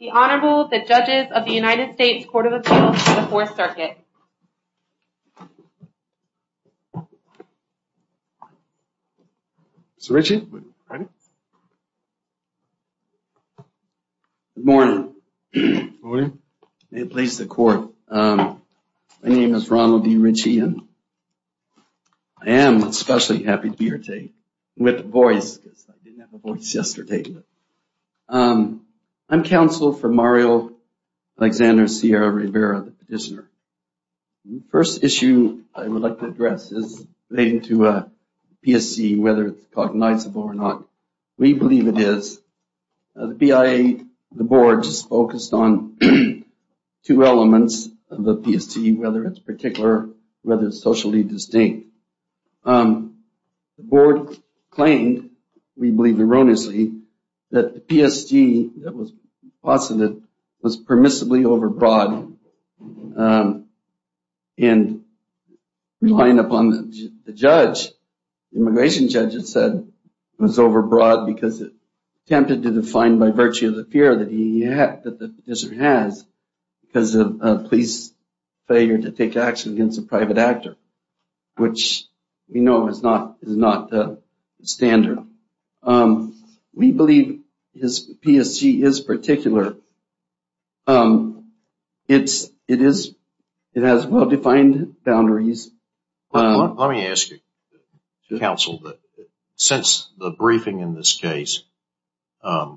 The Honorable, the Judges of the United States Court of Appeals for the Fourth Circuit. Mr. Ritchie? Good morning. May it please the Court. My name is Ronald D. Ritchie. I am especially happy to be here today with a voice, because I didn't have a voice yesterday. I'm counsel for Mario Alexander Sierra-Rivera, the petitioner. The first issue I would like to address is relating to PSC, whether it's cognizable or not. We believe it is. The BIA, the board, is focused on two elements of the PSC, whether it's particular, whether it's socially distinct. The board claimed, we believe erroneously, that the PSC that was posited was permissibly overbroad. And relying upon the judge, the immigration judge had said it was overbroad because it attempted to define by virtue of the fear that the petitioner has because of a police failure to take action against a private actor, which we know is not standard. We believe PSC is particular. It has well-defined boundaries. Let me ask you, counsel, since the briefing in this case, our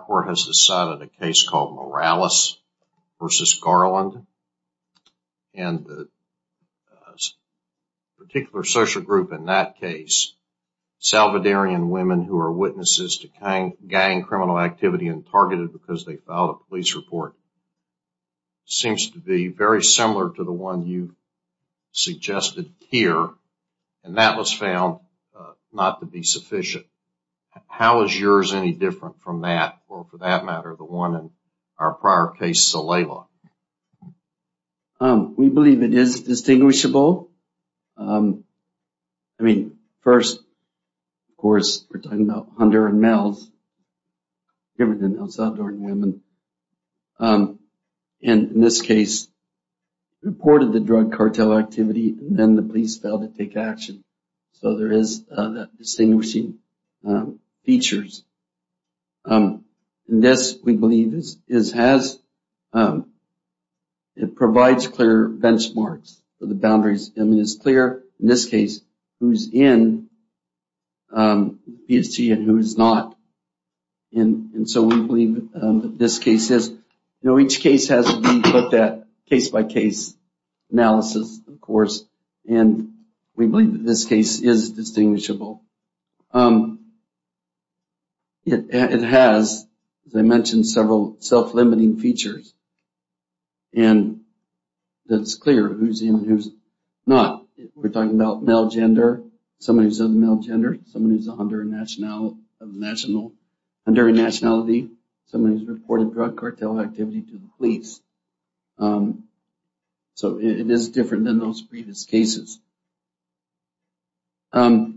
court has decided a case called Morales v. Garland. And the particular social group in that case, Salvadarian women who are witnesses to gang criminal activity and targeted because they filed a police report, seems to be very similar to the one you suggested here, and that was found not to be sufficient. How is yours any different from that, or for that matter, the one in our prior case, Salela? We believe it is distinguishable. I mean, first, of course, we're talking about Hunter and Mills, given that they're Salvadarian women. And in this case, reported the drug cartel activity, and then the police failed to take action. So there is that distinguishing feature. This, we believe, provides clear benchmarks for the boundaries. I mean, it's clear in this case who's in PSC and who's not. And so we believe that this case has to be looked at case by case analysis, of course. And we believe that this case is distinguishable. It has, as I mentioned, several self-limiting features. And it's clear who's in and who's not. We're talking about male gender, somebody who's of male gender, somebody who's of Honduran nationality, somebody who's reported drug cartel activity to the police. So it is different than those previous cases. Well,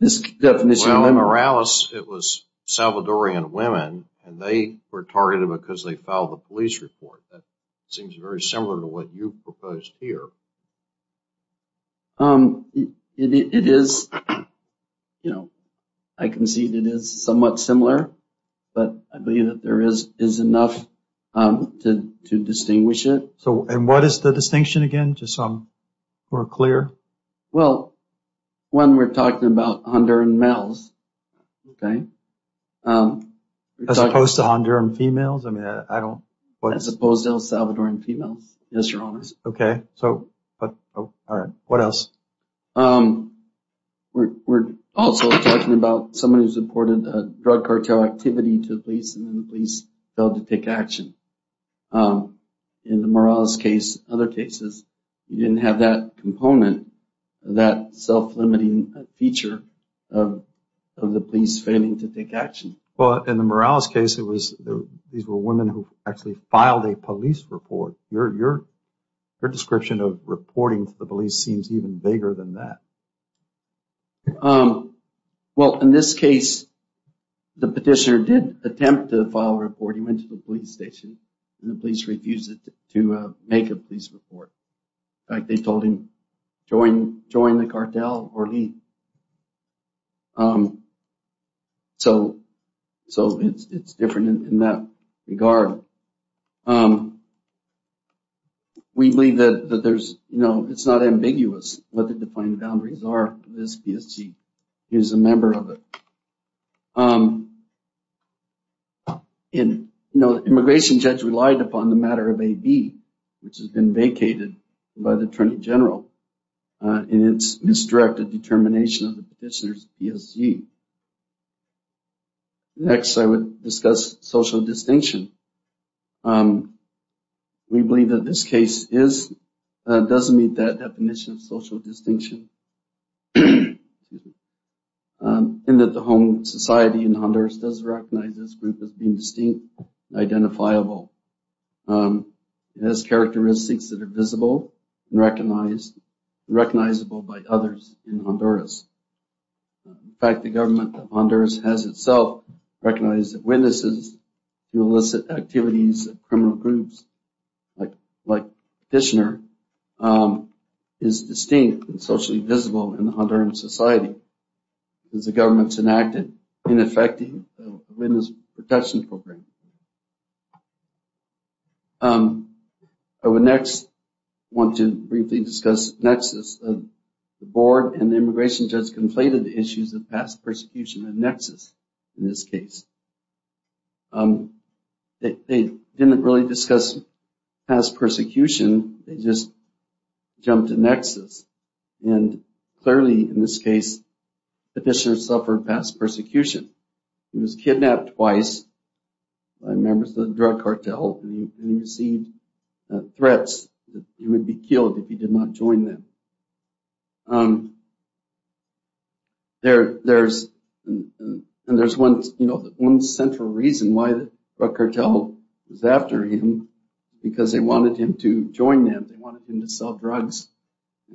in Morales, it was Salvadorian women, and they were targeted because they filed a police report. That seems very similar to what you proposed here. It is, you know, I concede it is somewhat similar. But I believe that there is enough to distinguish it. And what is the distinction again, just so we're clear? Well, when we're talking about Honduran males, okay? As opposed to Honduran females? As opposed to El Salvadorian females, yes, your honors. Okay. What else? We're also talking about somebody who's reported drug cartel activity to the police, and then the police failed to take action. In the Morales case, other cases, you didn't have that component, that self-limiting feature of the police failing to take action. Well, in the Morales case, these were women who actually filed a police report. Your description of reporting to the police seems even bigger than that. Well, in this case, the petitioner did attempt to file a report. He went to the police station, and the police refused to make a police report. In fact, they told him, join the cartel or leave. So it's different in that regard. We believe that there's, you know, it's not ambiguous what the defined boundaries are. This PSG is a member of it. And, you know, the immigration judge relied upon the matter of AB, which has been vacated by the attorney general, and it's misdirected determination of the petitioner's PSG. Next, I would discuss social distinction. We believe that this case does meet that definition of social distinction, and that the home society in Honduras does recognize this group as being distinct, identifiable, and has characteristics that are visible and recognizable by others in Honduras. In fact, the government of Honduras has itself recognized that witnesses to illicit activities of criminal groups like petitioner is distinct and socially visible in the Honduran society, because the government's enacted ineffective witness protection program. I would next want to briefly discuss the nexus of the board and the immigration judge's complaint of the issues of past persecution and nexus in this case. They didn't really discuss past persecution. They just jumped to nexus. And clearly, in this case, the petitioner suffered past persecution. He was kidnapped twice by members of the drug cartel, and he received threats that he would be killed if he did not join them. And there's one central reason why the drug cartel was after him, because they wanted him to join them. They wanted him to sell drugs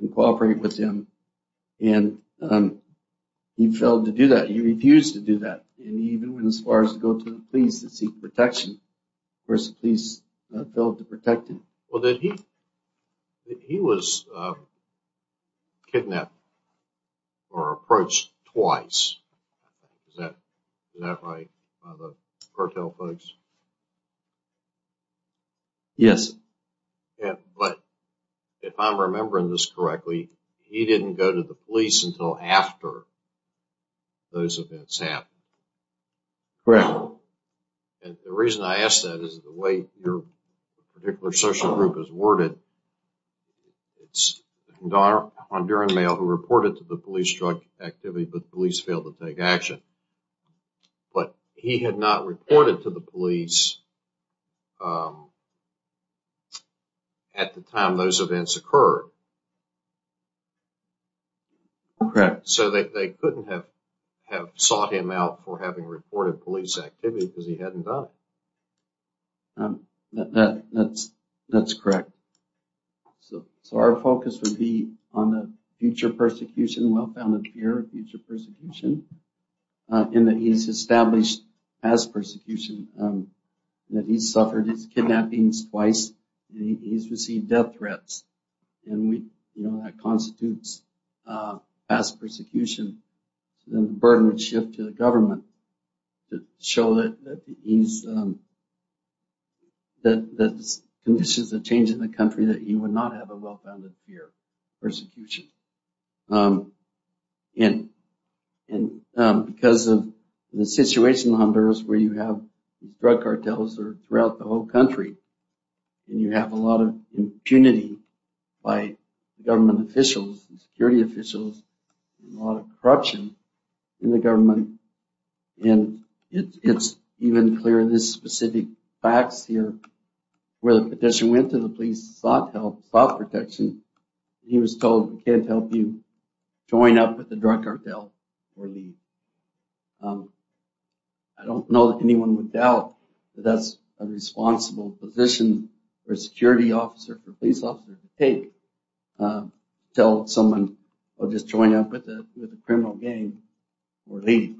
and cooperate with them. And he failed to do that. He refused to do that. And he even went as far as to go to the police to seek protection. Of course, the police failed to protect him. Yes. Correct. Correct. Because he hadn't done it. That's correct. So our focus would be on the future persecution, well-founded fear of future persecution, and that he's established past persecution, that he's suffered his kidnappings twice. He's received death threats. And that constitutes past persecution. And then the burden would shift to the government to show that he's the conditions of change in the country, that he would not have a well-founded fear of persecution. And because of the situation in Honduras where you have drug cartels throughout the whole country, and you have a lot of impunity by government officials, security officials, and a lot of corruption in the government, and it's even clear in these specific facts here where the petition went to the police, sought help, sought protection, and he was told, we can't help you, join up with the drug cartel or leave. I don't know that anyone would doubt that that's a responsible position for a security officer, for a police officer to take. Tell someone, well, just join up with the criminal gang or leave.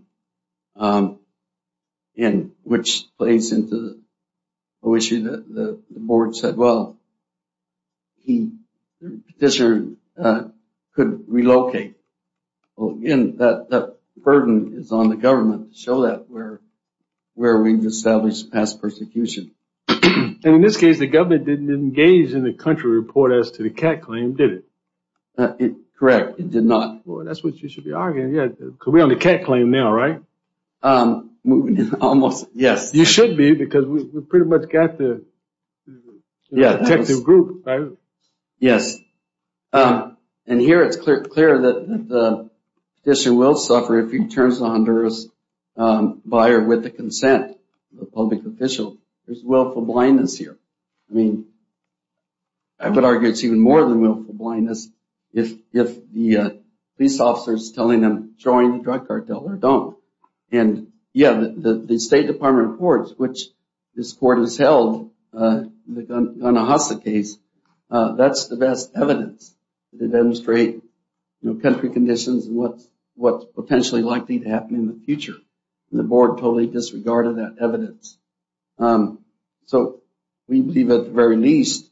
And which plays into the issue that the board said, well, the petitioner could relocate. And that burden is on the government to show that where we've established past persecution. And in this case, the government didn't engage in the country report as to the cat claim, did it? Correct, it did not. Well, that's what you should be arguing. Yeah, because we're on the cat claim now, right? Almost, yes. You should be because we've pretty much got the detective group. Yes. And here it's clear that the petitioner will suffer if he turns to Honduras by or with the consent of a public official. There's willful blindness here. I mean, I would argue it's even more than willful blindness if the police officer is telling them, join the drug cartel or don't. And, yeah, the State Department of Courts, which this court has held the Gunahasa case, that's the best evidence to demonstrate country conditions and what's potentially likely to happen in the future. And the board totally disregarded that evidence. So we believe at the very least,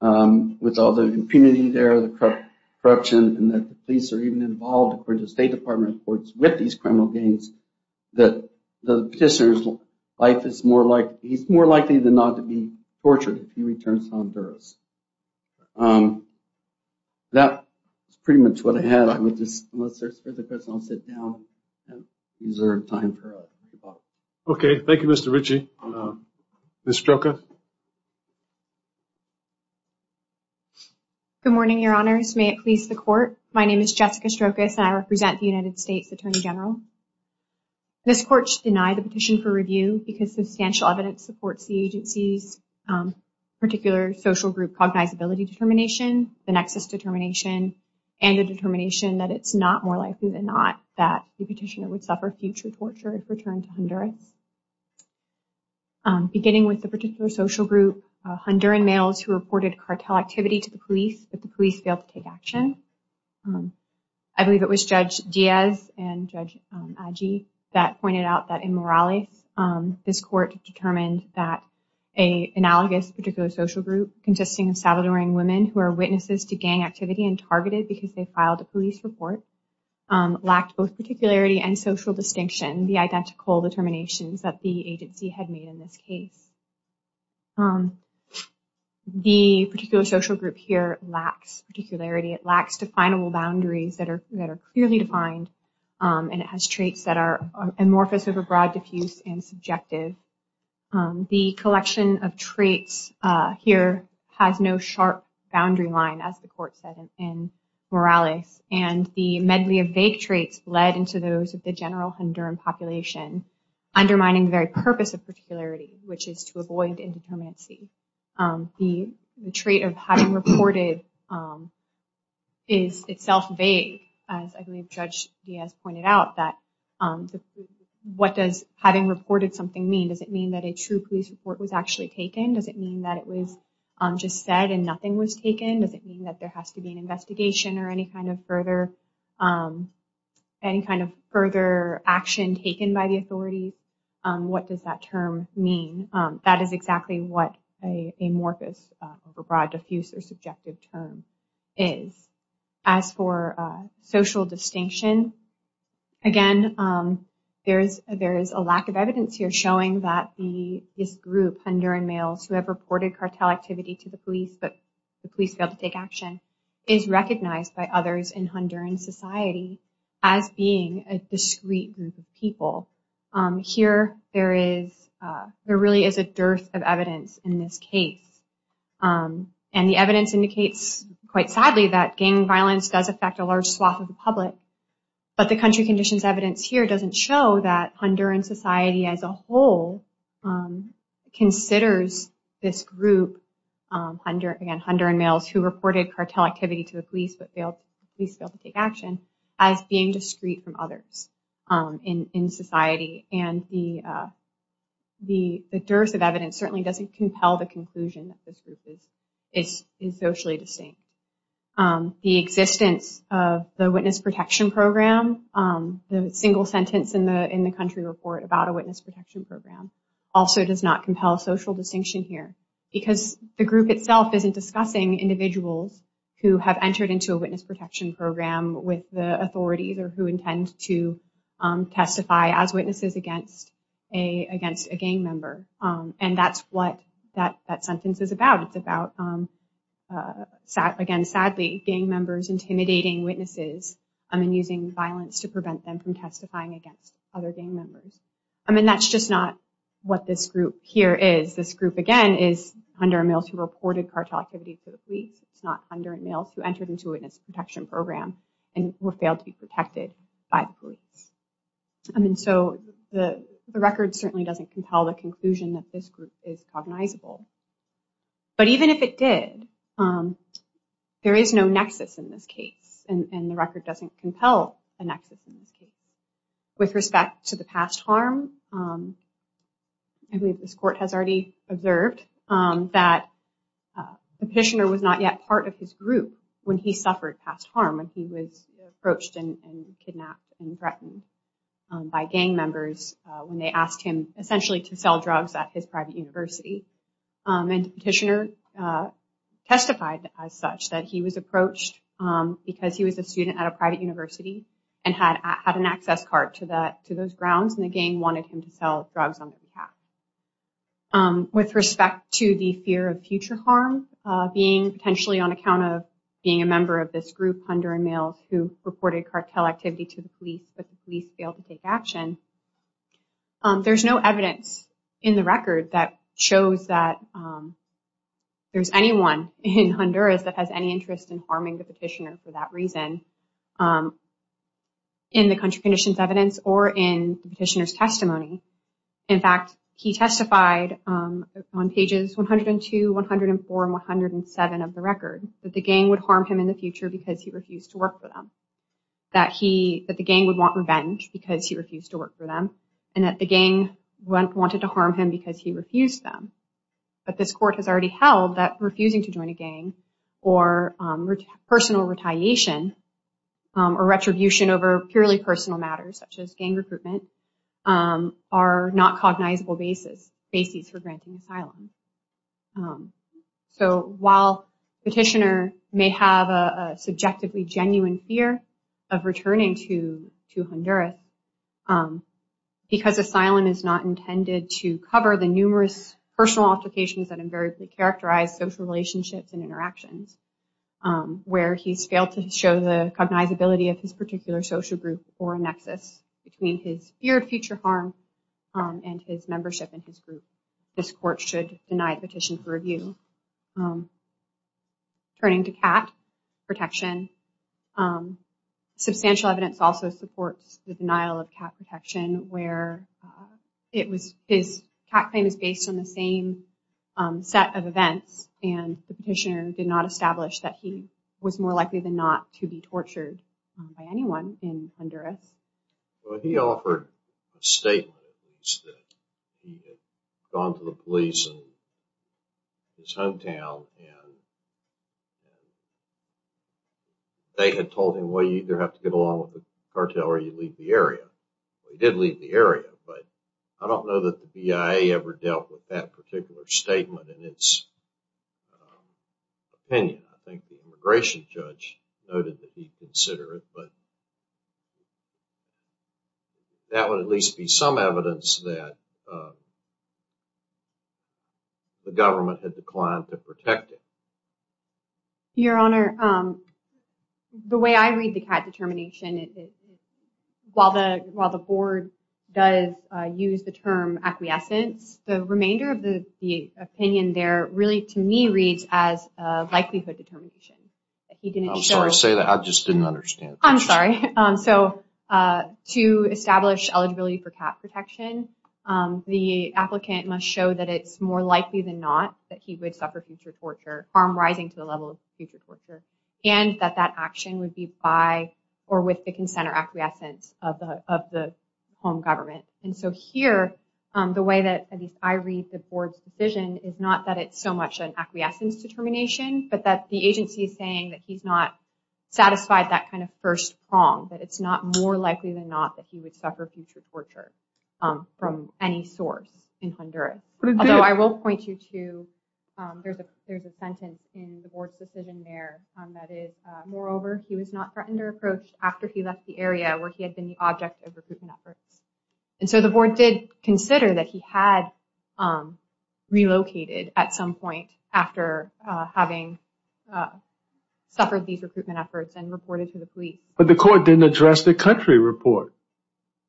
with all the impunity there, the corruption, and that the police are even involved, according to the State Department of Courts, with these criminal gangs, that the petitioner's life is more likely, he's more likely than not to be tortured if he returns to Honduras. That's pretty much what I had. I would just, unless there's further questions, I'll sit down and reserve time for questions. Okay. Thank you, Mr. Ritchie. Ms. Stroka. Good morning, Your Honors. May it please the Court. My name is Jessica Strokas, and I represent the United States Attorney General. This court should deny the petition for review because substantial evidence supports the agency's particular social group cognizability determination, the nexus determination, and the determination that it's not more likely than not that the petitioner would suffer future torture if returned to Honduras. Beginning with the particular social group, Honduran males who reported cartel activity to the police, but the police failed to take action. I believe it was Judge Diaz and Judge Agi that pointed out that in Morales, this court determined that an analogous particular social group consisting of Salvadoran women who are witnesses to gang activity and targeted because they filed a police report, lacked both particularity and social distinction, the identical determinations that the agency had made in this case. The particular social group here lacks particularity. It lacks definable boundaries that are clearly defined, and it has traits that are amorphous over broad, diffuse, and subjective. The collection of traits here has no sharp boundary line, as the court said in Morales, and the medley of vague traits bled into those of the general Honduran population, undermining the very purpose of particularity, which is to avoid indeterminacy. The trait of having reported is itself vague, as I believe Judge Diaz pointed out, that what does having reported something mean? Does it mean that a true police report was actually taken? Does it mean that it was just said and nothing was taken? Does it mean that there has to be an investigation or any kind of further action taken by the authority? What does that term mean? That is exactly what an amorphous, overbroad, diffuse, or subjective term is. As for social distinction, again, there is a lack of evidence here showing that this group, who have reported cartel activity to the police but the police failed to take action, is recognized by others in Honduran society as being a discreet group of people. Here, there really is a dearth of evidence in this case, and the evidence indicates, quite sadly, that gang violence does affect a large swath of the public, but the country conditions evidence here doesn't show that Honduran society as a whole considers this group, again, Honduran males who reported cartel activity to the police but the police failed to take action, as being discreet from others in society. The dearth of evidence certainly doesn't compel the conclusion that this group is socially distinct. The existence of the Witness Protection Program, the single sentence in the country report about a Witness Protection Program, also does not compel social distinction here, because the group itself isn't discussing individuals who have entered into a Witness Protection Program with the authorities or who intend to testify as witnesses against a gang member, and that's what that sentence is about. It's about, again, sadly, gang members intimidating witnesses and using violence to prevent them from testifying against other gang members. I mean, that's just not what this group here is. This group, again, is Honduran males who reported cartel activity to the police. It's not Honduran males who entered into a Witness Protection Program and who failed to be protected by the police. So the record certainly doesn't compel the conclusion that this group is cognizable, but even if it did, there is no nexus in this case, and the record doesn't compel a nexus in this case. With respect to the past harm, I believe this court has already observed that the petitioner was not yet part of his group when he suffered past harm, when he was approached and kidnapped and threatened by gang members when they asked him essentially to sell drugs at his private university. And the petitioner testified as such, that he was approached because he was a student at a private university and had an access card to those grounds, and the gang wanted him to sell drugs on their behalf. With respect to the fear of future harm, being potentially on account of being a member of this group, Honduran males who reported cartel activity to the police, but the police failed to take action, there's no evidence in the record that shows that there's anyone in Honduras that has any interest in harming the petitioner for that reason, In fact, he testified on pages 102, 104, and 107 of the record, that the gang would harm him in the future because he refused to work for them, that the gang would want revenge because he refused to work for them, and that the gang wanted to harm him because he refused them. But this court has already held that refusing to join a gang, or personal retaliation, or retribution over purely personal matters such as gang recruitment, are not cognizable bases for granting asylum. So while the petitioner may have a subjectively genuine fear of returning to Honduras, because asylum is not intended to cover the numerous personal applications that invariably characterize social relationships and interactions, where he's failed to show the cognizability of his particular social group or nexus between his fear of future harm and his membership in his group, this court should deny the petition for review. Turning to cat protection, substantial evidence also supports the denial of cat protection, where his cat claim is based on the same set of events, and the petitioner did not establish that he was more likely than not to be tortured by anyone in Honduras. He offered a statement that he had gone to the police in his hometown, and they had told him, well, you either have to get along with the cartel or you leave the area. He did leave the area, but I don't know that the BIA ever dealt with that particular statement in its opinion. I think the immigration judge noted that he'd consider it, but that would at least be some evidence that the government had declined to protect him. Your Honor, the way I read the cat determination, while the board does use the term acquiescence, the remainder of the opinion there really, to me, reads as a likelihood determination. I'm sorry to say that. I just didn't understand. I'm sorry. So to establish eligibility for cat protection, the applicant must show that it's more likely than not that he would suffer future torture, harm rising to the level of future torture, and that that action would be by or with the consent or acquiescence of the home government. Here, the way that I read the board's decision is not that it's so much an acquiescence determination, but that the agency is saying that he's not satisfied that kind of first prong, that it's not more likely than not that he would suffer future torture from any source in Honduras. Although I will point you to, there's a sentence in the board's decision there that is, moreover, he was not threatened or approached after he left the area where he had been the object of recruitment efforts. And so the board did consider that he had relocated at some point after having suffered these recruitment efforts and reported to the police. But the court didn't address the country report.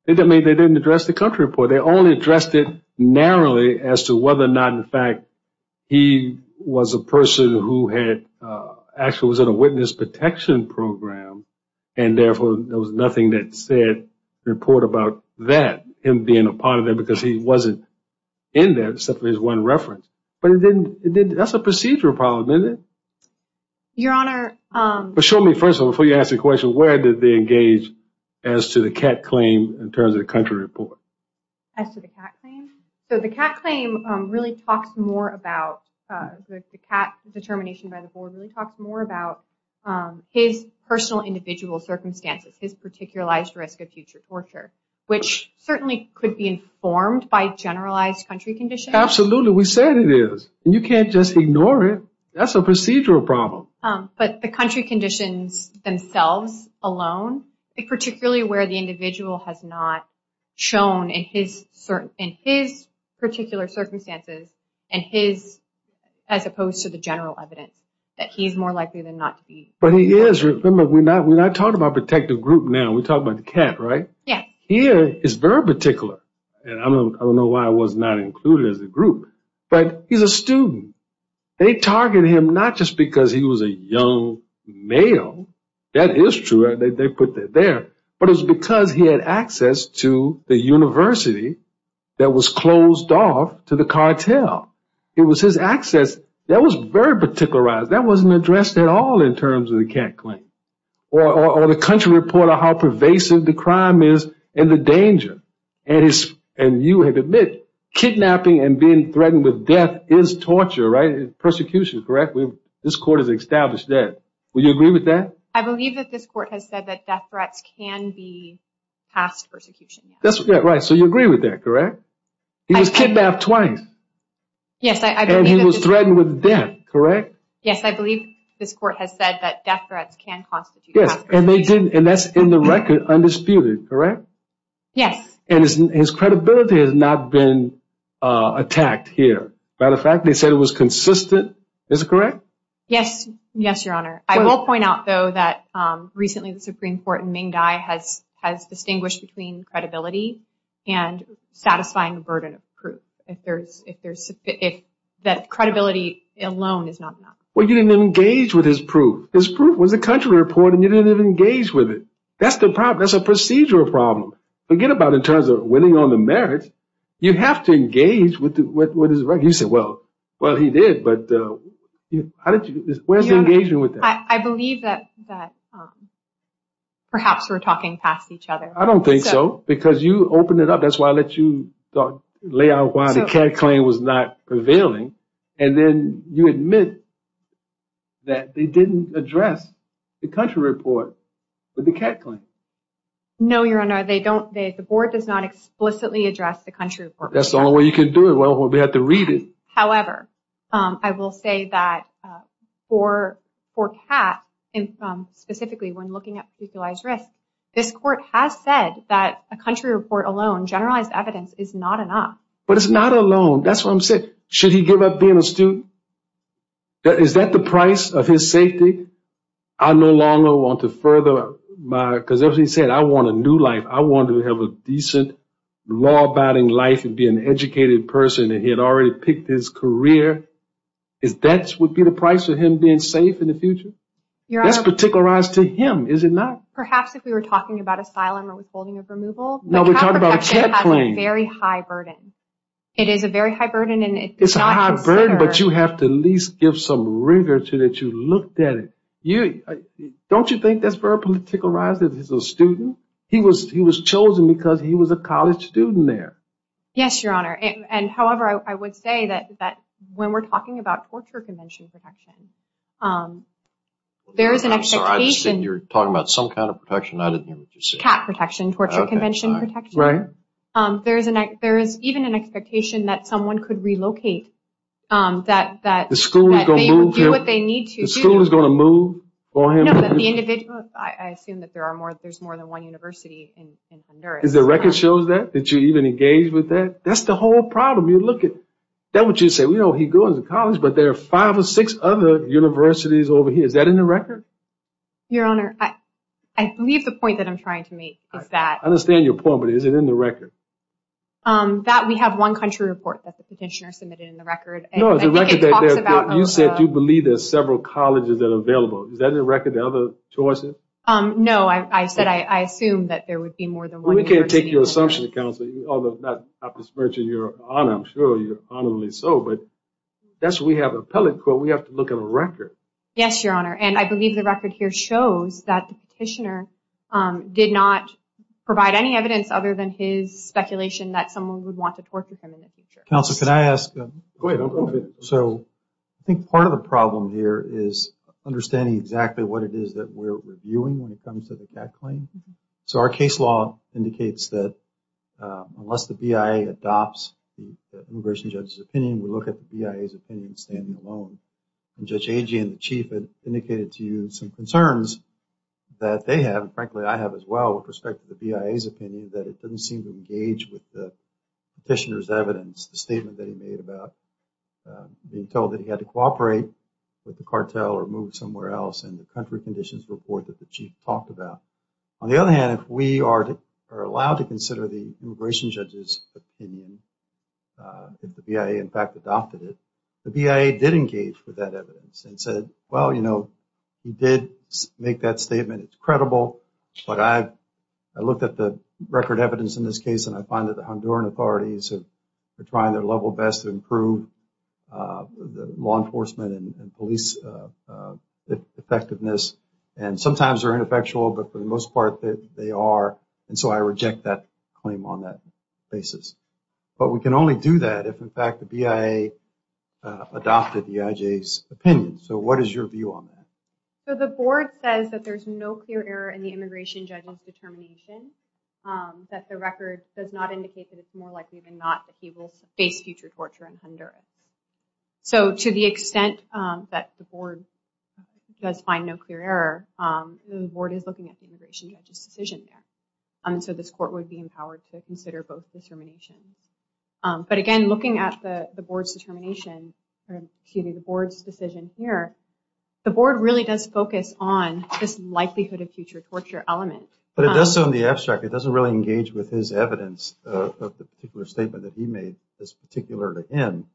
I mean, they didn't address the country report. They only addressed it narrowly as to whether or not, in fact, he was a person who had actually was in a witness protection program, and therefore there was nothing that said report about that, him being a part of that, because he wasn't in there except for his one reference. But that's a procedural problem, isn't it? Your Honor. But show me, first of all, before you ask the question, where did they engage as to the CAT claim in terms of the country report? As to the CAT claim? So the CAT claim really talks more about, the CAT determination by the board really talks more about his personal individual circumstances, his particularized risk of future torture, which certainly could be informed by generalized country conditions. Absolutely. We said it is, and you can't just ignore it. That's a procedural problem. But the country conditions themselves alone, particularly where the individual has not shown in his particular circumstances and his, as opposed to the general evidence, that he's more likely than not to be. But he is. Remember, we're not talking about protective group now. We're talking about the CAT, right? Yeah. He is very particular, and I don't know why I was not included as a group, but he's a student. They target him not just because he was a young male. That is true. They put that there. But it was because he had access to the university that was closed off to the cartel. It was his access. That was very particularized. That wasn't addressed at all in terms of the CAT claim. Or the country report on how pervasive the crime is and the danger. And you have admitted kidnapping and being threatened with death is torture, right? Persecution, correct? This court has established that. Would you agree with that? I believe that this court has said that death threats can be passed persecution. That's right. So you agree with that, correct? He was kidnapped twice. Yes. And he was threatened with death, correct? Yes, I believe this court has said that death threats can constitute prosecution. And that's in the record, undisputed, correct? Yes. And his credibility has not been attacked here. Matter of fact, they said it was consistent. Is it correct? Yes, Your Honor. I will point out, though, that recently the Supreme Court in Mingdi has distinguished between credibility and satisfying the burden of proof. If that credibility alone is not enough. Well, you didn't even engage with his proof. His proof was the country report, and you didn't even engage with it. That's the problem. That's a procedural problem. Forget about it in terms of winning on the merits. You have to engage with his record. You said, well, he did, but where's the engagement with that? I believe that perhaps we're talking past each other. I don't think so, because you opened it up. That's why I let you lay out why the CAD claim was not prevailing, and then you admit that they didn't address the country report with the CAD claim. No, Your Honor, they don't. The board does not explicitly address the country report. That's the only way you can do it. Well, we have to read it. However, I will say that for CAD, and specifically when looking at precarious risk, this court has said that a country report alone, generalized evidence, is not enough. But it's not alone. That's what I'm saying. Should he give up being a student? Is that the price of his safety? I no longer want to further my – because, as he said, I want a new life. I want to have a decent, law-abiding life and be an educated person, and he had already picked his career. Is that what would be the price of him being safe in the future? That's particularized to him, is it not? Perhaps if we were talking about asylum or withholding of removal. But CAD protection has a very high burden. It is a very high burden. It's a high burden, but you have to at least give some rigor to it. You looked at it. Don't you think that's very particularized? He's a student. He was chosen because he was a college student there. Yes, Your Honor. However, I would say that when we're talking about torture convention protection, there is an expectation – I'm sorry. You're talking about some kind of protection. I didn't hear what you said. CAT protection, torture convention protection. Right. There is even an expectation that someone could relocate, that they would do what they need to do. The school is going to move for him? No, but the individual – I assume that there's more than one university in Honduras. Does the record show that? Did you even engage with that? That's the whole problem. You look at – that's what you said. He goes to college, but there are five or six other universities over here. Is that in the record? Your Honor, I believe the point that I'm trying to make is that – I understand your point, but is it in the record? We have one country report that the petitioner submitted in the record. I think it talks about – You said you believe there are several colleges that are available. Is that in the record? The other choices? No. I said I assumed that there would be more than one university. We can't take your assumption, Counselor, although I'm not dismissing your honor. I'm sure you're honorably so, but that's why we have an appellate court. We have to look at a record. Yes, Your Honor. I believe the record here shows that the petitioner did not provide any evidence other than his speculation that someone would want to torture him in the future. Counsel, could I ask – Go ahead. I think part of the problem here is understanding exactly what it is that we're reviewing when it comes to the CAC claim. Our case law indicates that unless the BIA adopts the immigration judge's opinion, we look at the BIA's opinion standing alone. Judge Agee and the Chief indicated to you some concerns that they have and, frankly, I have as well with respect to the BIA's opinion that it doesn't seem to engage with the petitioner's evidence, the statement that he made about being told that he had to cooperate with the cartel or move somewhere else in the country conditions report that the Chief talked about. On the other hand, if we are allowed to consider the immigration judge's opinion, if the BIA in fact adopted it, the BIA did engage with that evidence and said, well, you know, he did make that statement, it's credible, but I looked at the record evidence in this case and I find that the Honduran authorities are trying their level best to improve law enforcement and police effectiveness and sometimes they're ineffectual, but for the most part they are, and so I reject that claim on that basis. But we can only do that if, in fact, the BIA adopted the IJ's opinion. So what is your view on that? So the board says that there's no clear error in the immigration judge's determination, that the record does not indicate that it's more likely than not that he will face future torture in Honduras. So to the extent that the board does find no clear error, the board is looking at the immigration judge's decision there. So this court would be empowered to consider both determinations. But again, looking at the board's determination, excuse me, the board's decision here, the board really does focus on this likelihood of future torture element. But it does so in the abstract, it doesn't really engage with his evidence of the particular statement that he made that's particular to him,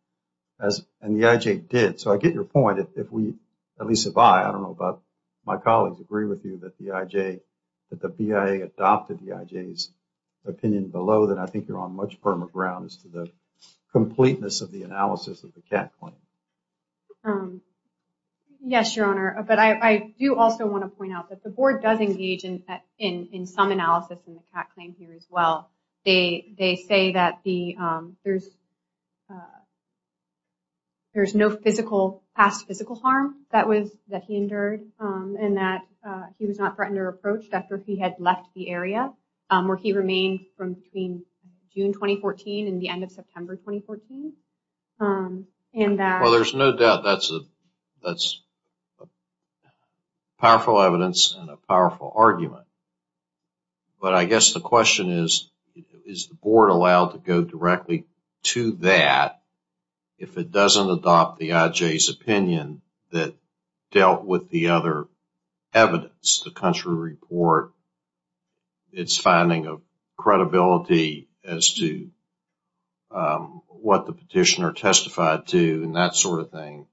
and the IJ did. So I get your point, at least if I, I don't know about my colleagues, agree with you that the IJ, that the BIA adopted the IJ's opinion below, then I think you're on much firmer ground as to the completeness of the analysis of the CAT claim. Yes, Your Honor. But I do also want to point out that the board does engage in some analysis in the CAT claim here as well. They say that there's no physical, past physical harm that he endured, and that he was not threatened or approached after he had left the area, where he remained from between June 2014 and the end of September 2014. Well, there's no doubt that's powerful evidence and a powerful argument. But I guess the question is, is the board allowed to go directly to that if it doesn't adopt the IJ's opinion that dealt with the other evidence, the country report, its finding of credibility as to what the petitioner testified to and that sort of thing?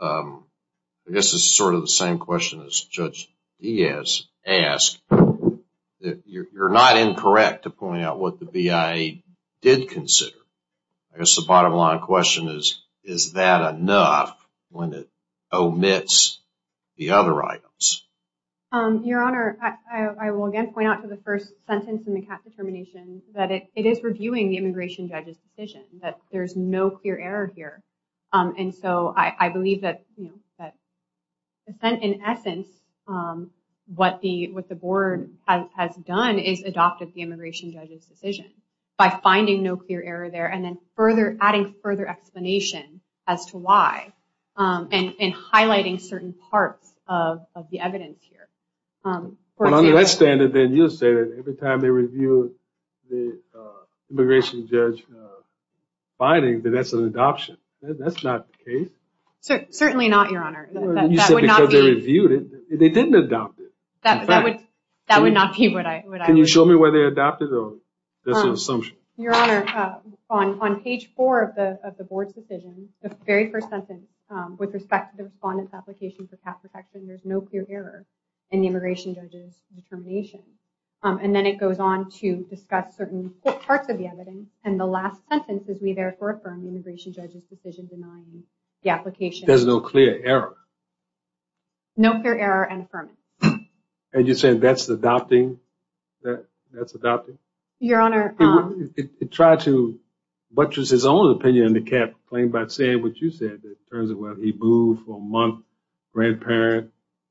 I guess it's sort of the same question as Judge Diaz asked. You're not incorrect to point out what the BIA did consider. I guess the bottom line of the question is, is that enough when it omits the other items? Your Honor, I will again point out to the first sentence in the CAT determination that it is reviewing the immigration judge's decision, that there's no clear error here. And so I believe that in essence what the board has done is adopted the immigration judge's decision by finding no clear error there and then adding further explanation as to why and highlighting certain parts of the evidence here. Well, under that standard then you'll say that every time they review the immigration judge's finding that that's an adoption. That's not the case. Certainly not, Your Honor. You said because they reviewed it. They didn't adopt it. That would not be what I would have said. Can you show me where they adopted it or that's an assumption? Your Honor, on page four of the board's decision, the very first sentence with respect to the respondent's application for CAT protection, there's no clear error in the immigration judge's determination. And then it goes on to discuss certain parts of the evidence. And the last sentence is we therefore affirm the immigration judge's decision denying the application. There's no clear error? No clear error and affirmance. And you're saying that's adopting? Your Honor. It tried to buttress his own opinion in the CAT claim by saying what you said, in terms of whether he moved for a month, grandparent,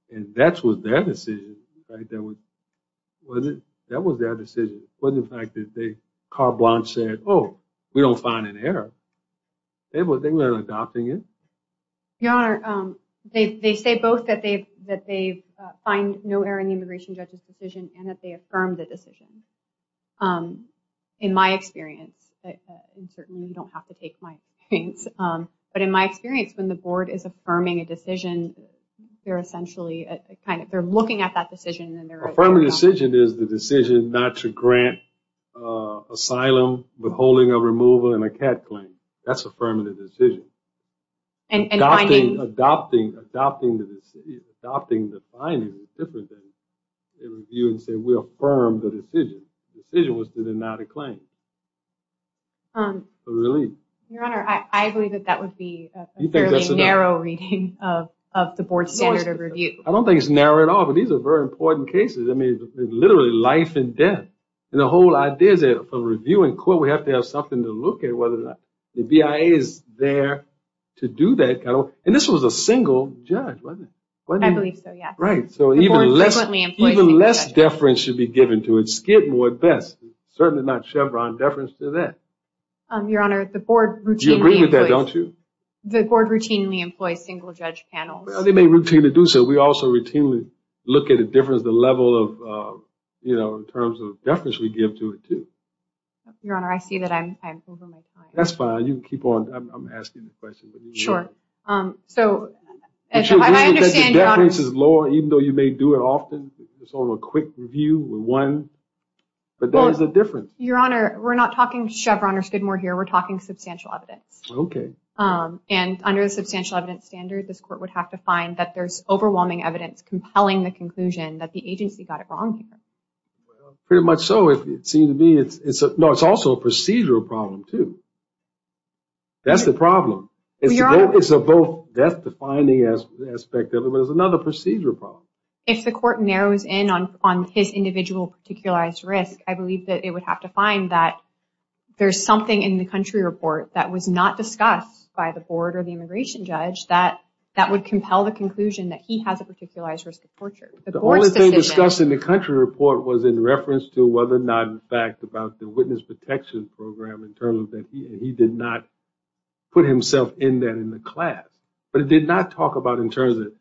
and that was their decision. That was their decision. It wasn't the fact that Carl Blanche said, oh, we don't find an error. They weren't adopting it. Your Honor, they say both that they find no error in the immigration judge's decision and that they affirm the decision. In my experience, and certainly you don't have to take my experience, but in my experience, when the board is affirming a decision, they're essentially looking at that decision. Affirming the decision is the decision not to grant asylum, withholding a remover, and a CAT claim. That's affirming the decision. And finding? Adopting the finding is different than reviewing and saying we affirm the decision. The decision was to deny the claim. Your Honor, I believe that that would be a fairly narrow reading of the board standard of review. I don't think it's narrow at all, but these are very important cases. I mean, literally life and death. And the whole idea is that for review in court, we have to have something to look at. The BIA is there to do that. And this was a single judge, wasn't it? I believe so, yeah. Right. So even less deference should be given to it. Skid more at best. Certainly not Chevron deference to that. Your Honor, the board routinely employs single judge panels. They may routinely do so. We also routinely look at the difference, the level in terms of deference we give to it, too. Your Honor, I see that I'm over my time. That's fine. You can keep on. I'm asking the questions. Sure. So I understand, Your Honor. The deference is lower, even though you may do it often. It's only a quick review with one. But that is the difference. Your Honor, we're not talking Chevron or Skidmore here. We're talking substantial evidence. Okay. And under the substantial evidence standard, this court would have to find that there's overwhelming evidence compelling the conclusion that the agency got it wrong here. Pretty much so. No, it's also a procedural problem, too. That's the problem. That's the finding aspect of it. But it's another procedural problem. If the court narrows in on his individual particularized risk, I believe that it would have to find that there's something in the country report that was not discussed by the board or the immigration judge that would compel the conclusion that he has a particularized risk of torture. The only thing discussed in the country report was in reference to whether or not the fact about the witness protection program in terms of that he did not put himself in that in the class. But it did not talk about in terms of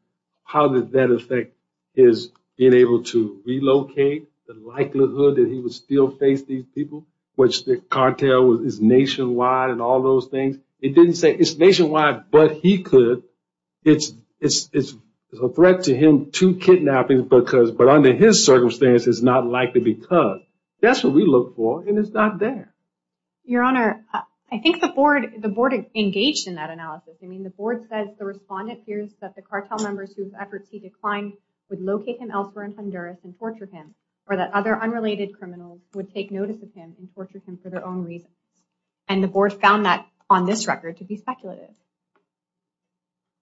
how that effect is being able to relocate, the likelihood that he would still face these people, which the cartel is nationwide and all those things. It didn't say it's nationwide, but he could. It's a threat to him to kidnapping, but under his circumstance, it's not likely because. That's what we look for, and it's not there. Your Honor, I think the board engaged in that analysis. The board says the respondent fears that the cartel members whose efforts he declined would locate him elsewhere in Honduras and torture him, or that other unrelated criminals would take notice of him and torture him for their own reasons. And the board found that on this record to be speculative.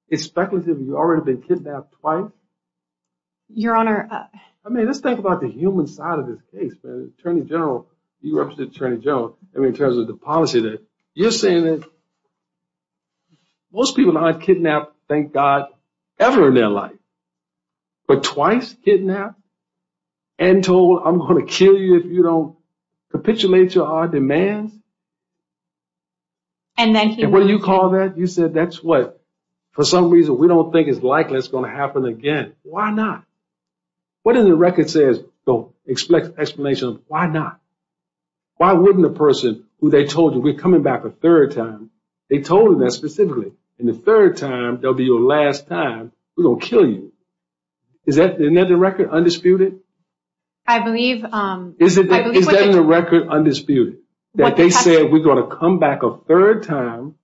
It's speculative? You've already been kidnapped twice? Your Honor. I mean, let's think about the human side of this case. Attorney General, you represent Attorney General. I mean, in terms of the policy there. You're saying that most people not have kidnapped, thank God, ever in their life, but twice kidnapped and told, I'm going to kill you if you don't capitulate to our demands? And when you call that, you said that's what, for some reason we don't think it's likely it's going to happen again. Why not? What does the record say is the explanation of why not? Why wouldn't a person who they told you, we're coming back a third time, they told him that specifically, and the third time they'll be your last time, we're going to kill you. Isn't that the record? Undisputed? I believe. Is that in the record undisputed, that they said we're going to come back a third time?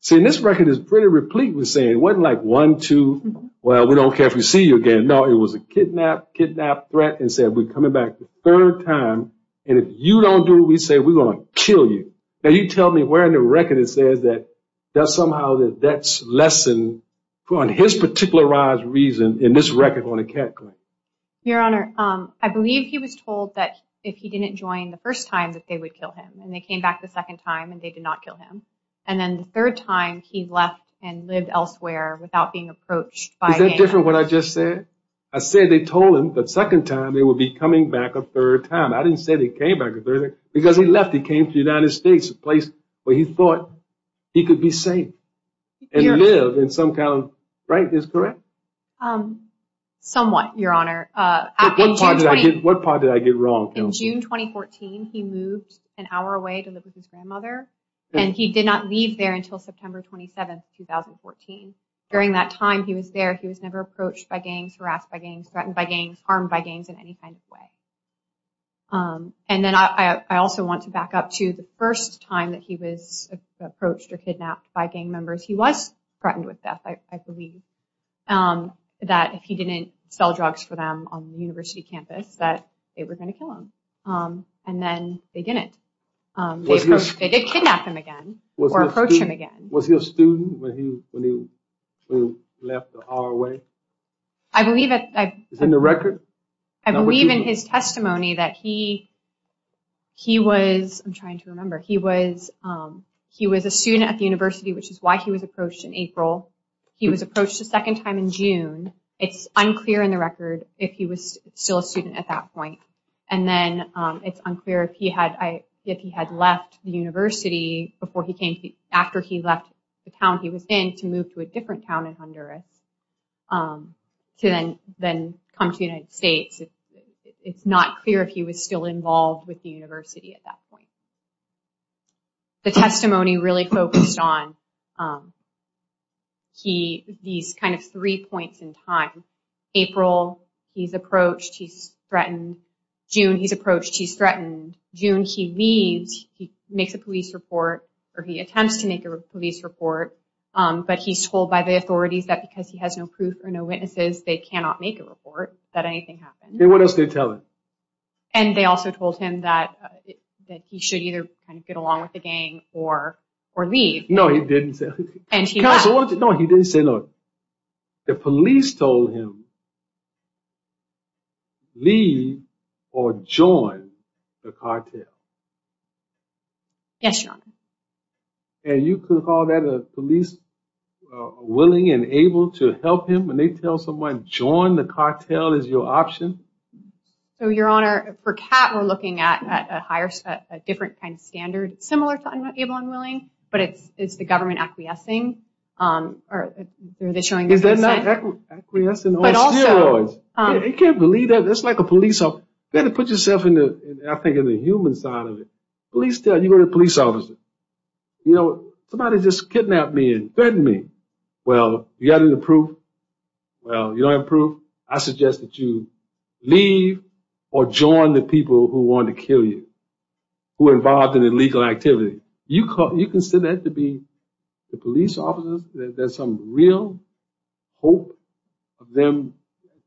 See, this record is pretty replete with saying it wasn't like one, two, well, we don't care if we see you again. No, it was a kidnap, kidnap, threat, and said we're coming back a third time, and if you don't do it, we say we're going to kill you. Now you tell me where in the record it says that somehow that that's less on his particularized reason in this record on a cat claim. Your Honor, I believe he was told that if he didn't join the first time that they would kill him, and they came back the second time and they did not kill him, and then the third time he left and lived elsewhere without being approached by him. Is that different from what I just said? I said they told him the second time they would be coming back a third time. I didn't say they came back a third time, because he left, he came to the United States, a place where he thought he could be safe and live in some kind of, right? Is that correct? Somewhat, Your Honor. What part did I get wrong? In June 2014, he moved an hour away to live with his grandmother, and he did not leave there until September 27, 2014. During that time he was there, he was never approached by gangs, harassed by gangs, threatened by gangs, harmed by gangs in any kind of way. And then I also want to back up to the first time that he was approached or kidnapped by gang members, he was threatened with death, I believe, that if he didn't sell drugs for them on the university campus, that they were going to kill him. And then they didn't. They did kidnap him again, or approach him again. Was he a student when he left an hour away? I believe that. Is it in the record? I believe in his testimony that he was, I'm trying to remember, he was a student at the university, which is why he was approached in April. He was approached a second time in June. It's unclear in the record if he was still a student at that point. And then it's unclear if he had left the university after he left the town he came to the United States. It's not clear if he was still involved with the university at that point. The testimony really focused on these kind of three points in time. April, he's approached, he's threatened. June, he's approached, he's threatened. June, he leaves, he makes a police report, or he attempts to make a police report, but he's told by the authorities that because he has no proof or no proof that he cannot make a report that anything happened. And what else did they tell him? And they also told him that he should either kind of get along with the gang or leave. No, he didn't say that. And he left. No, he didn't say no. The police told him leave or join the cartel. Yes, Your Honor. And you could call that a police willing and able to help him when they tell someone join the cartel is your option? So, Your Honor, for Kat, we're looking at a different kind of standard similar to able and willing, but it's the government acquiescing. Is there not acquiescing on steroids? You can't believe that. That's like a police officer. You've got to put yourself, I think, in the human side of it. You go to a police officer. You know, somebody just kidnapped me and threatened me. Well, you got any proof? Well, you don't have proof? I suggest that you leave or join the people who want to kill you, who are involved in illegal activity. You consider that to be the police officers? There's some real hope of them.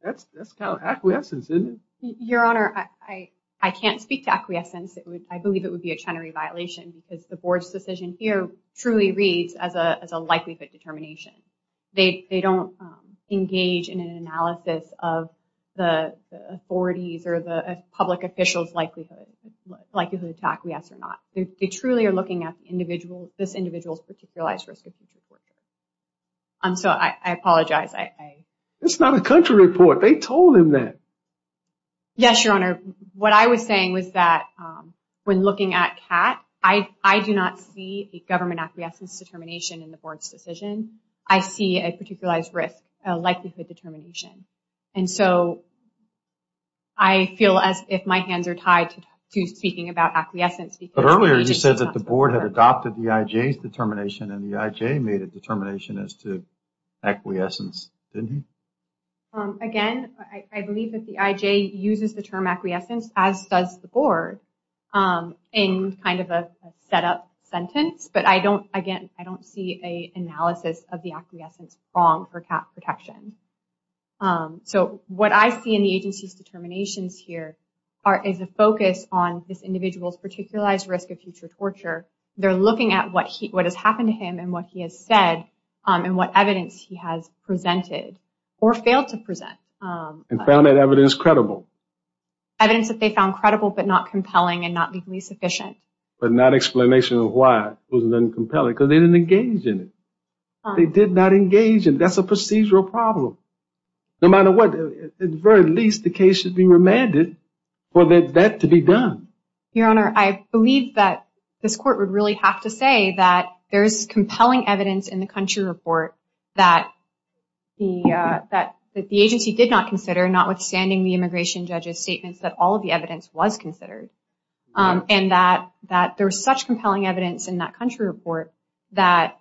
That's kind of acquiescence, isn't it? Your Honor, I can't speak to acquiescence. I believe it would be a Chenery violation because the board's decision here truly reads as a likelihood determination. They don't engage in an analysis of the authorities or the public official's likelihood to acquiesce or not. They truly are looking at this individual's particular risk of future torture. So I apologize. It's not a country report. They told him that. Yes, Your Honor. What I was saying was that when looking at Kat, I do not see a government acquiescence determination in the board's decision. I see a particularized risk, a likelihood determination. And so I feel as if my hands are tied to speaking about acquiescence. But earlier you said that the board had adopted the IJ's determination and the IJ made a determination as to acquiescence, didn't he? Again, I believe that the IJ uses the term acquiescence, as does the board, in kind of a setup sentence. But, again, I don't see an analysis of the acquiescence wrong for Kat's protection. So what I see in the agency's determinations here is a focus on this individual's particularized risk of future torture. They're looking at what has happened to him and what he has said and what evidence he has presented or failed to present. And found that evidence credible. Evidence that they found credible but not compelling and not legally sufficient. But not an explanation of why it wasn't compelling because they didn't engage in it. They did not engage in it. That's a procedural problem. No matter what, at the very least, the case should be remanded for that to be done. Your Honor, I believe that this court would really have to say that there is compelling evidence in the country report that the agency did not consider, notwithstanding the immigration judge's statements, that all of the evidence was considered and that there is such compelling evidence in that country report that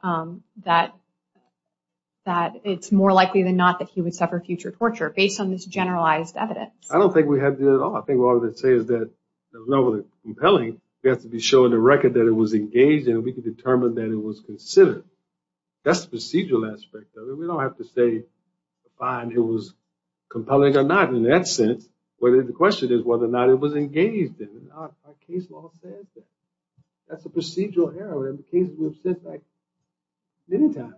it's more likely than not that he would suffer future torture based on this generalized evidence. I don't think we have to do that at all. I think all we have to say is that there's nothing compelling. We have to be showing the record that it was engaged in. We can determine that it was considered. That's the procedural aspect of it. We don't have to say, fine, it was compelling or not. In that sense, the question is whether or not it was engaged in. Our case law says that. That's a procedural error. In the cases we've sent back many times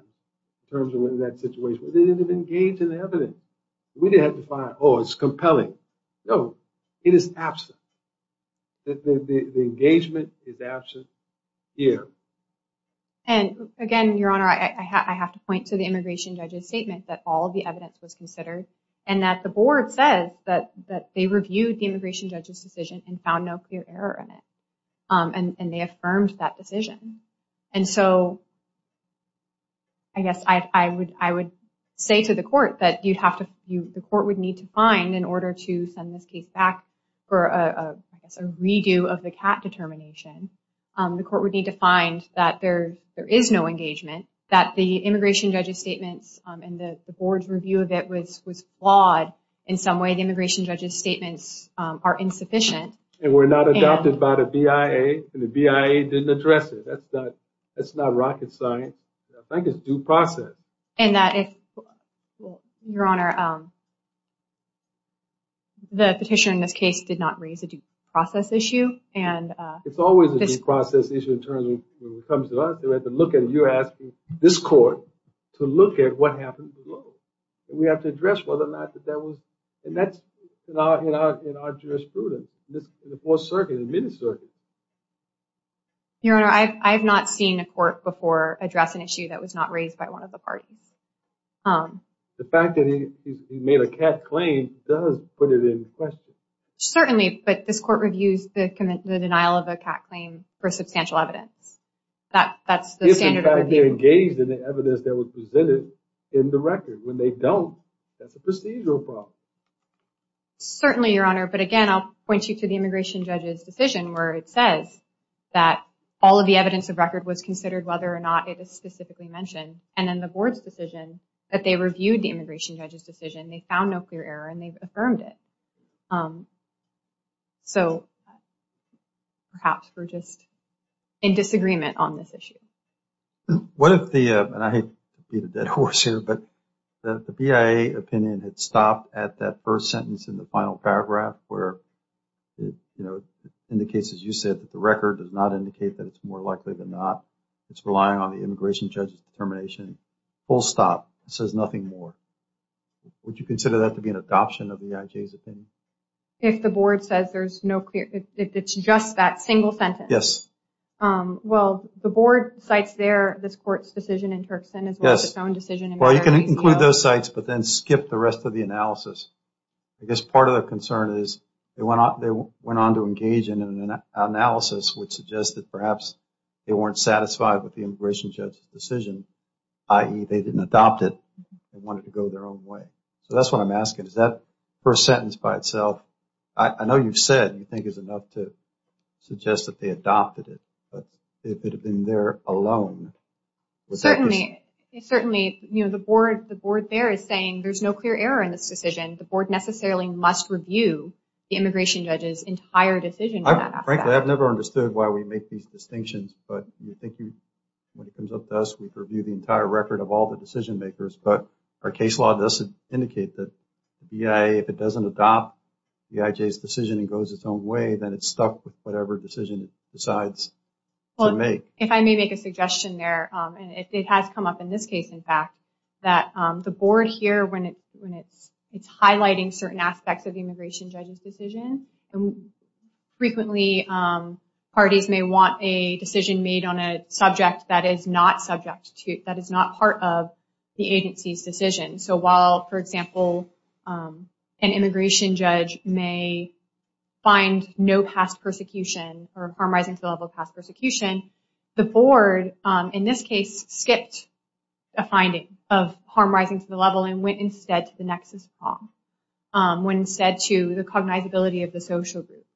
in terms of that situation, they didn't engage in the evidence. We didn't have to find, oh, it's compelling. No, it is absent. The engagement is absent here. Again, Your Honor, I have to point to the immigration judge's statement that all of the evidence was considered and that the board says that they reviewed the immigration judge's decision and found no clear error in it, and they affirmed that decision. So I guess I would say to the court that the court would need to find, in order to send this case back for a redo of the CAT determination, the court would need to find that there is no engagement, that the immigration judge's statements and the board's review of it was flawed in some way, the immigration judge's statements are insufficient. And were not adopted by the BIA, and the BIA didn't address it. That's not rocket science. I think it's due process. And that if, Your Honor, the petitioner in this case did not raise a due process issue. It's always a due process issue in terms of when it comes to us. We have to look at it. You're asking this court to look at what happened below. We have to address whether or not that that was, and that's in our jurisprudence, in the Fourth Circuit and the Middle Circuit. Your Honor, I have not seen a court before address an issue that was not raised by one of the parties. The fact that he made a CAT claim does put it in question. Certainly, but this court reviews the denial of a CAT claim for substantial evidence. That's the standard of review. If, in fact, they're engaged in the evidence that was presented in the record. When they don't, that's a procedural problem. Certainly, Your Honor, but, again, I'll point you to the immigration judge's decision where it says that all of the evidence of record was considered whether or not it is specifically mentioned. And in the board's decision that they reviewed the immigration judge's decision, they found no clear error and they've affirmed it. So, perhaps we're just in disagreement on this issue. What if the, and I hate to beat a dead horse here, but the BIA opinion had stopped at that first sentence in the final paragraph where it indicates, as you said, that the record does not indicate that it's more likely than not. It's relying on the immigration judge's determination. Full stop. It says nothing more. Would you consider that to be an adoption of the IJ's opinion? If the board says there's no clear, if it's just that single sentence. Yes. Well, the board cites there this court's decision in Turkson as well as its own decision. Well, you can include those sites but then skip the rest of the analysis. I guess part of the concern is they went on to engage in an analysis which suggests that perhaps they weren't satisfied with the immigration judge's decision, i.e., they didn't adopt it. They wanted to go their own way. So, that's what I'm asking. Is that first sentence by itself, I know you've said and you think it's enough to suggest that they adopted it, but if it had been there alone. Certainly. Certainly. You know, the board there is saying there's no clear error in this decision. The board necessarily must review the immigration judge's entire decision. Frankly, I've never understood why we make these distinctions, but I think when it comes up to us, we review the entire record of all the decision makers. But our case law does indicate that the BIA, if it doesn't adopt the IJ's decision and goes its own way, then it's stuck with whatever decision it decides to make. If I may make a suggestion there, and it has come up in this case, in fact, that the board here, when it's highlighting certain aspects of the immigration judge's decision, frequently parties may want a decision made on a subject that is not subject to, that is not part of the agency's decision. So, while, for example, an immigration judge may find no past persecution or harm rising to the level of past persecution, the board, in this case, skipped a finding of harm rising to the level and went instead to the nexus of harm, went instead to the cognizability of the social group.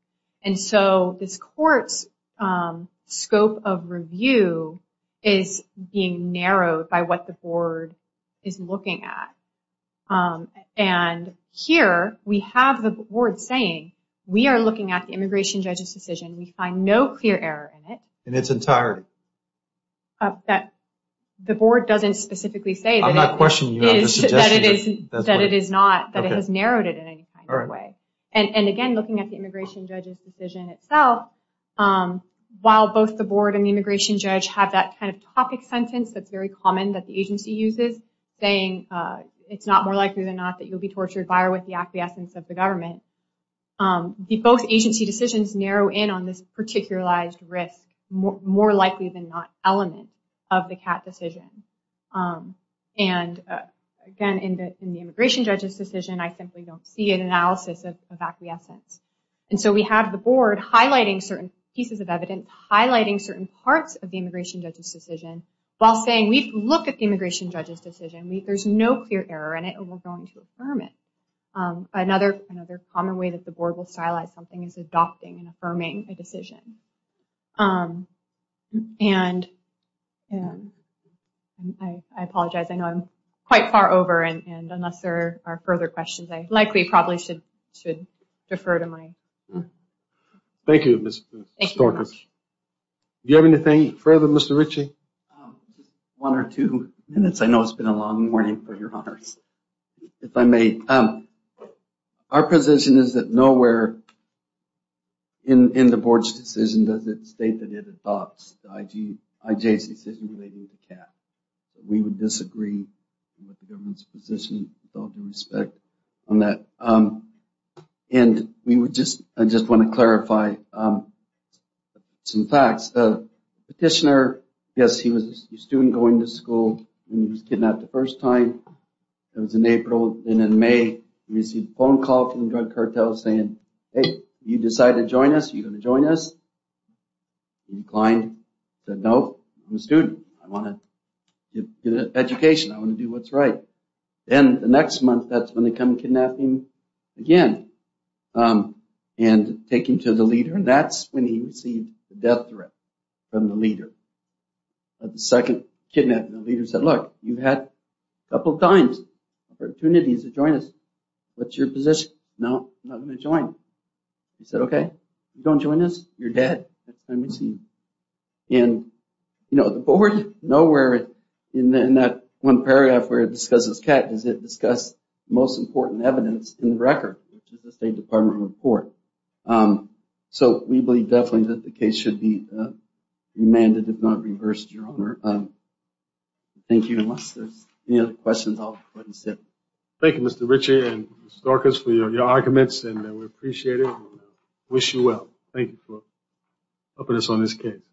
And so this court's scope of review is being narrowed by what the board is looking at. And here we have the board saying, we are looking at the immigration judge's decision. We find no clear error in it. In its entirety. The board doesn't specifically say that it is, that it is not, that it has narrowed it in any kind of way. And again, looking at the immigration judge's decision itself, while both the board and the immigration judge have that kind of topic sentence that's very common that the agency uses, saying it's not more likely than not that you'll be tortured by or with the acquiescence of the government, both agency decisions narrow in on this particularized risk, more likely than not element of the CAT decision. And again, in the immigration judge's decision, I simply don't see an analysis of acquiescence. And so we have the board highlighting certain pieces of evidence, highlighting certain parts of the immigration judge's decision, while saying we've looked at the immigration judge's decision. There's no clear error in it, and we're going to affirm it. Another common way that the board will stylize something is adopting and affirming a decision. I apologize, I know I'm quite far over, and unless there are further questions, I likely probably should defer to my... Thank you, Ms. Storkes. Do you have anything further, Mr. Ritchie? One or two minutes, I know it's been a long morning for your honors. If I may, our position is that nowhere in the board's decision does it state that it adopts the IJ's decision relating to CAT. We would disagree with the government's position with all due respect on that. And I just want to clarify some facts. The petitioner, yes, he was a student going to school, and he was kidnapped the first time, it was in April, and in May he received a phone call from the drug cartel saying, hey, you decided to join us, are you going to join us? He declined, said no, I'm a student, I want to get an education, I want to do what's right. Then the next month, that's when they come and kidnap him again, and take him to the leader, and that's when he received the death threat from the leader. The second kidnap, the leader said, look, you've had a couple of times, opportunities to join us, what's your position? No, I'm not going to join. He said, okay, you don't join us, you're dead, next time we see you. And, you know, the board, nowhere in that one paragraph where it discusses CAT does it discuss the most important evidence in the record, which is the State Department report. So we believe definitely that the case should be remanded, if not reversed, Your Honor. Thank you. Unless there's any other questions, I'll go ahead and sit. Thank you, Mr. Ritchie and Ms. Dorcas, for your arguments, and we appreciate it, and wish you well. Thank you for helping us on this case.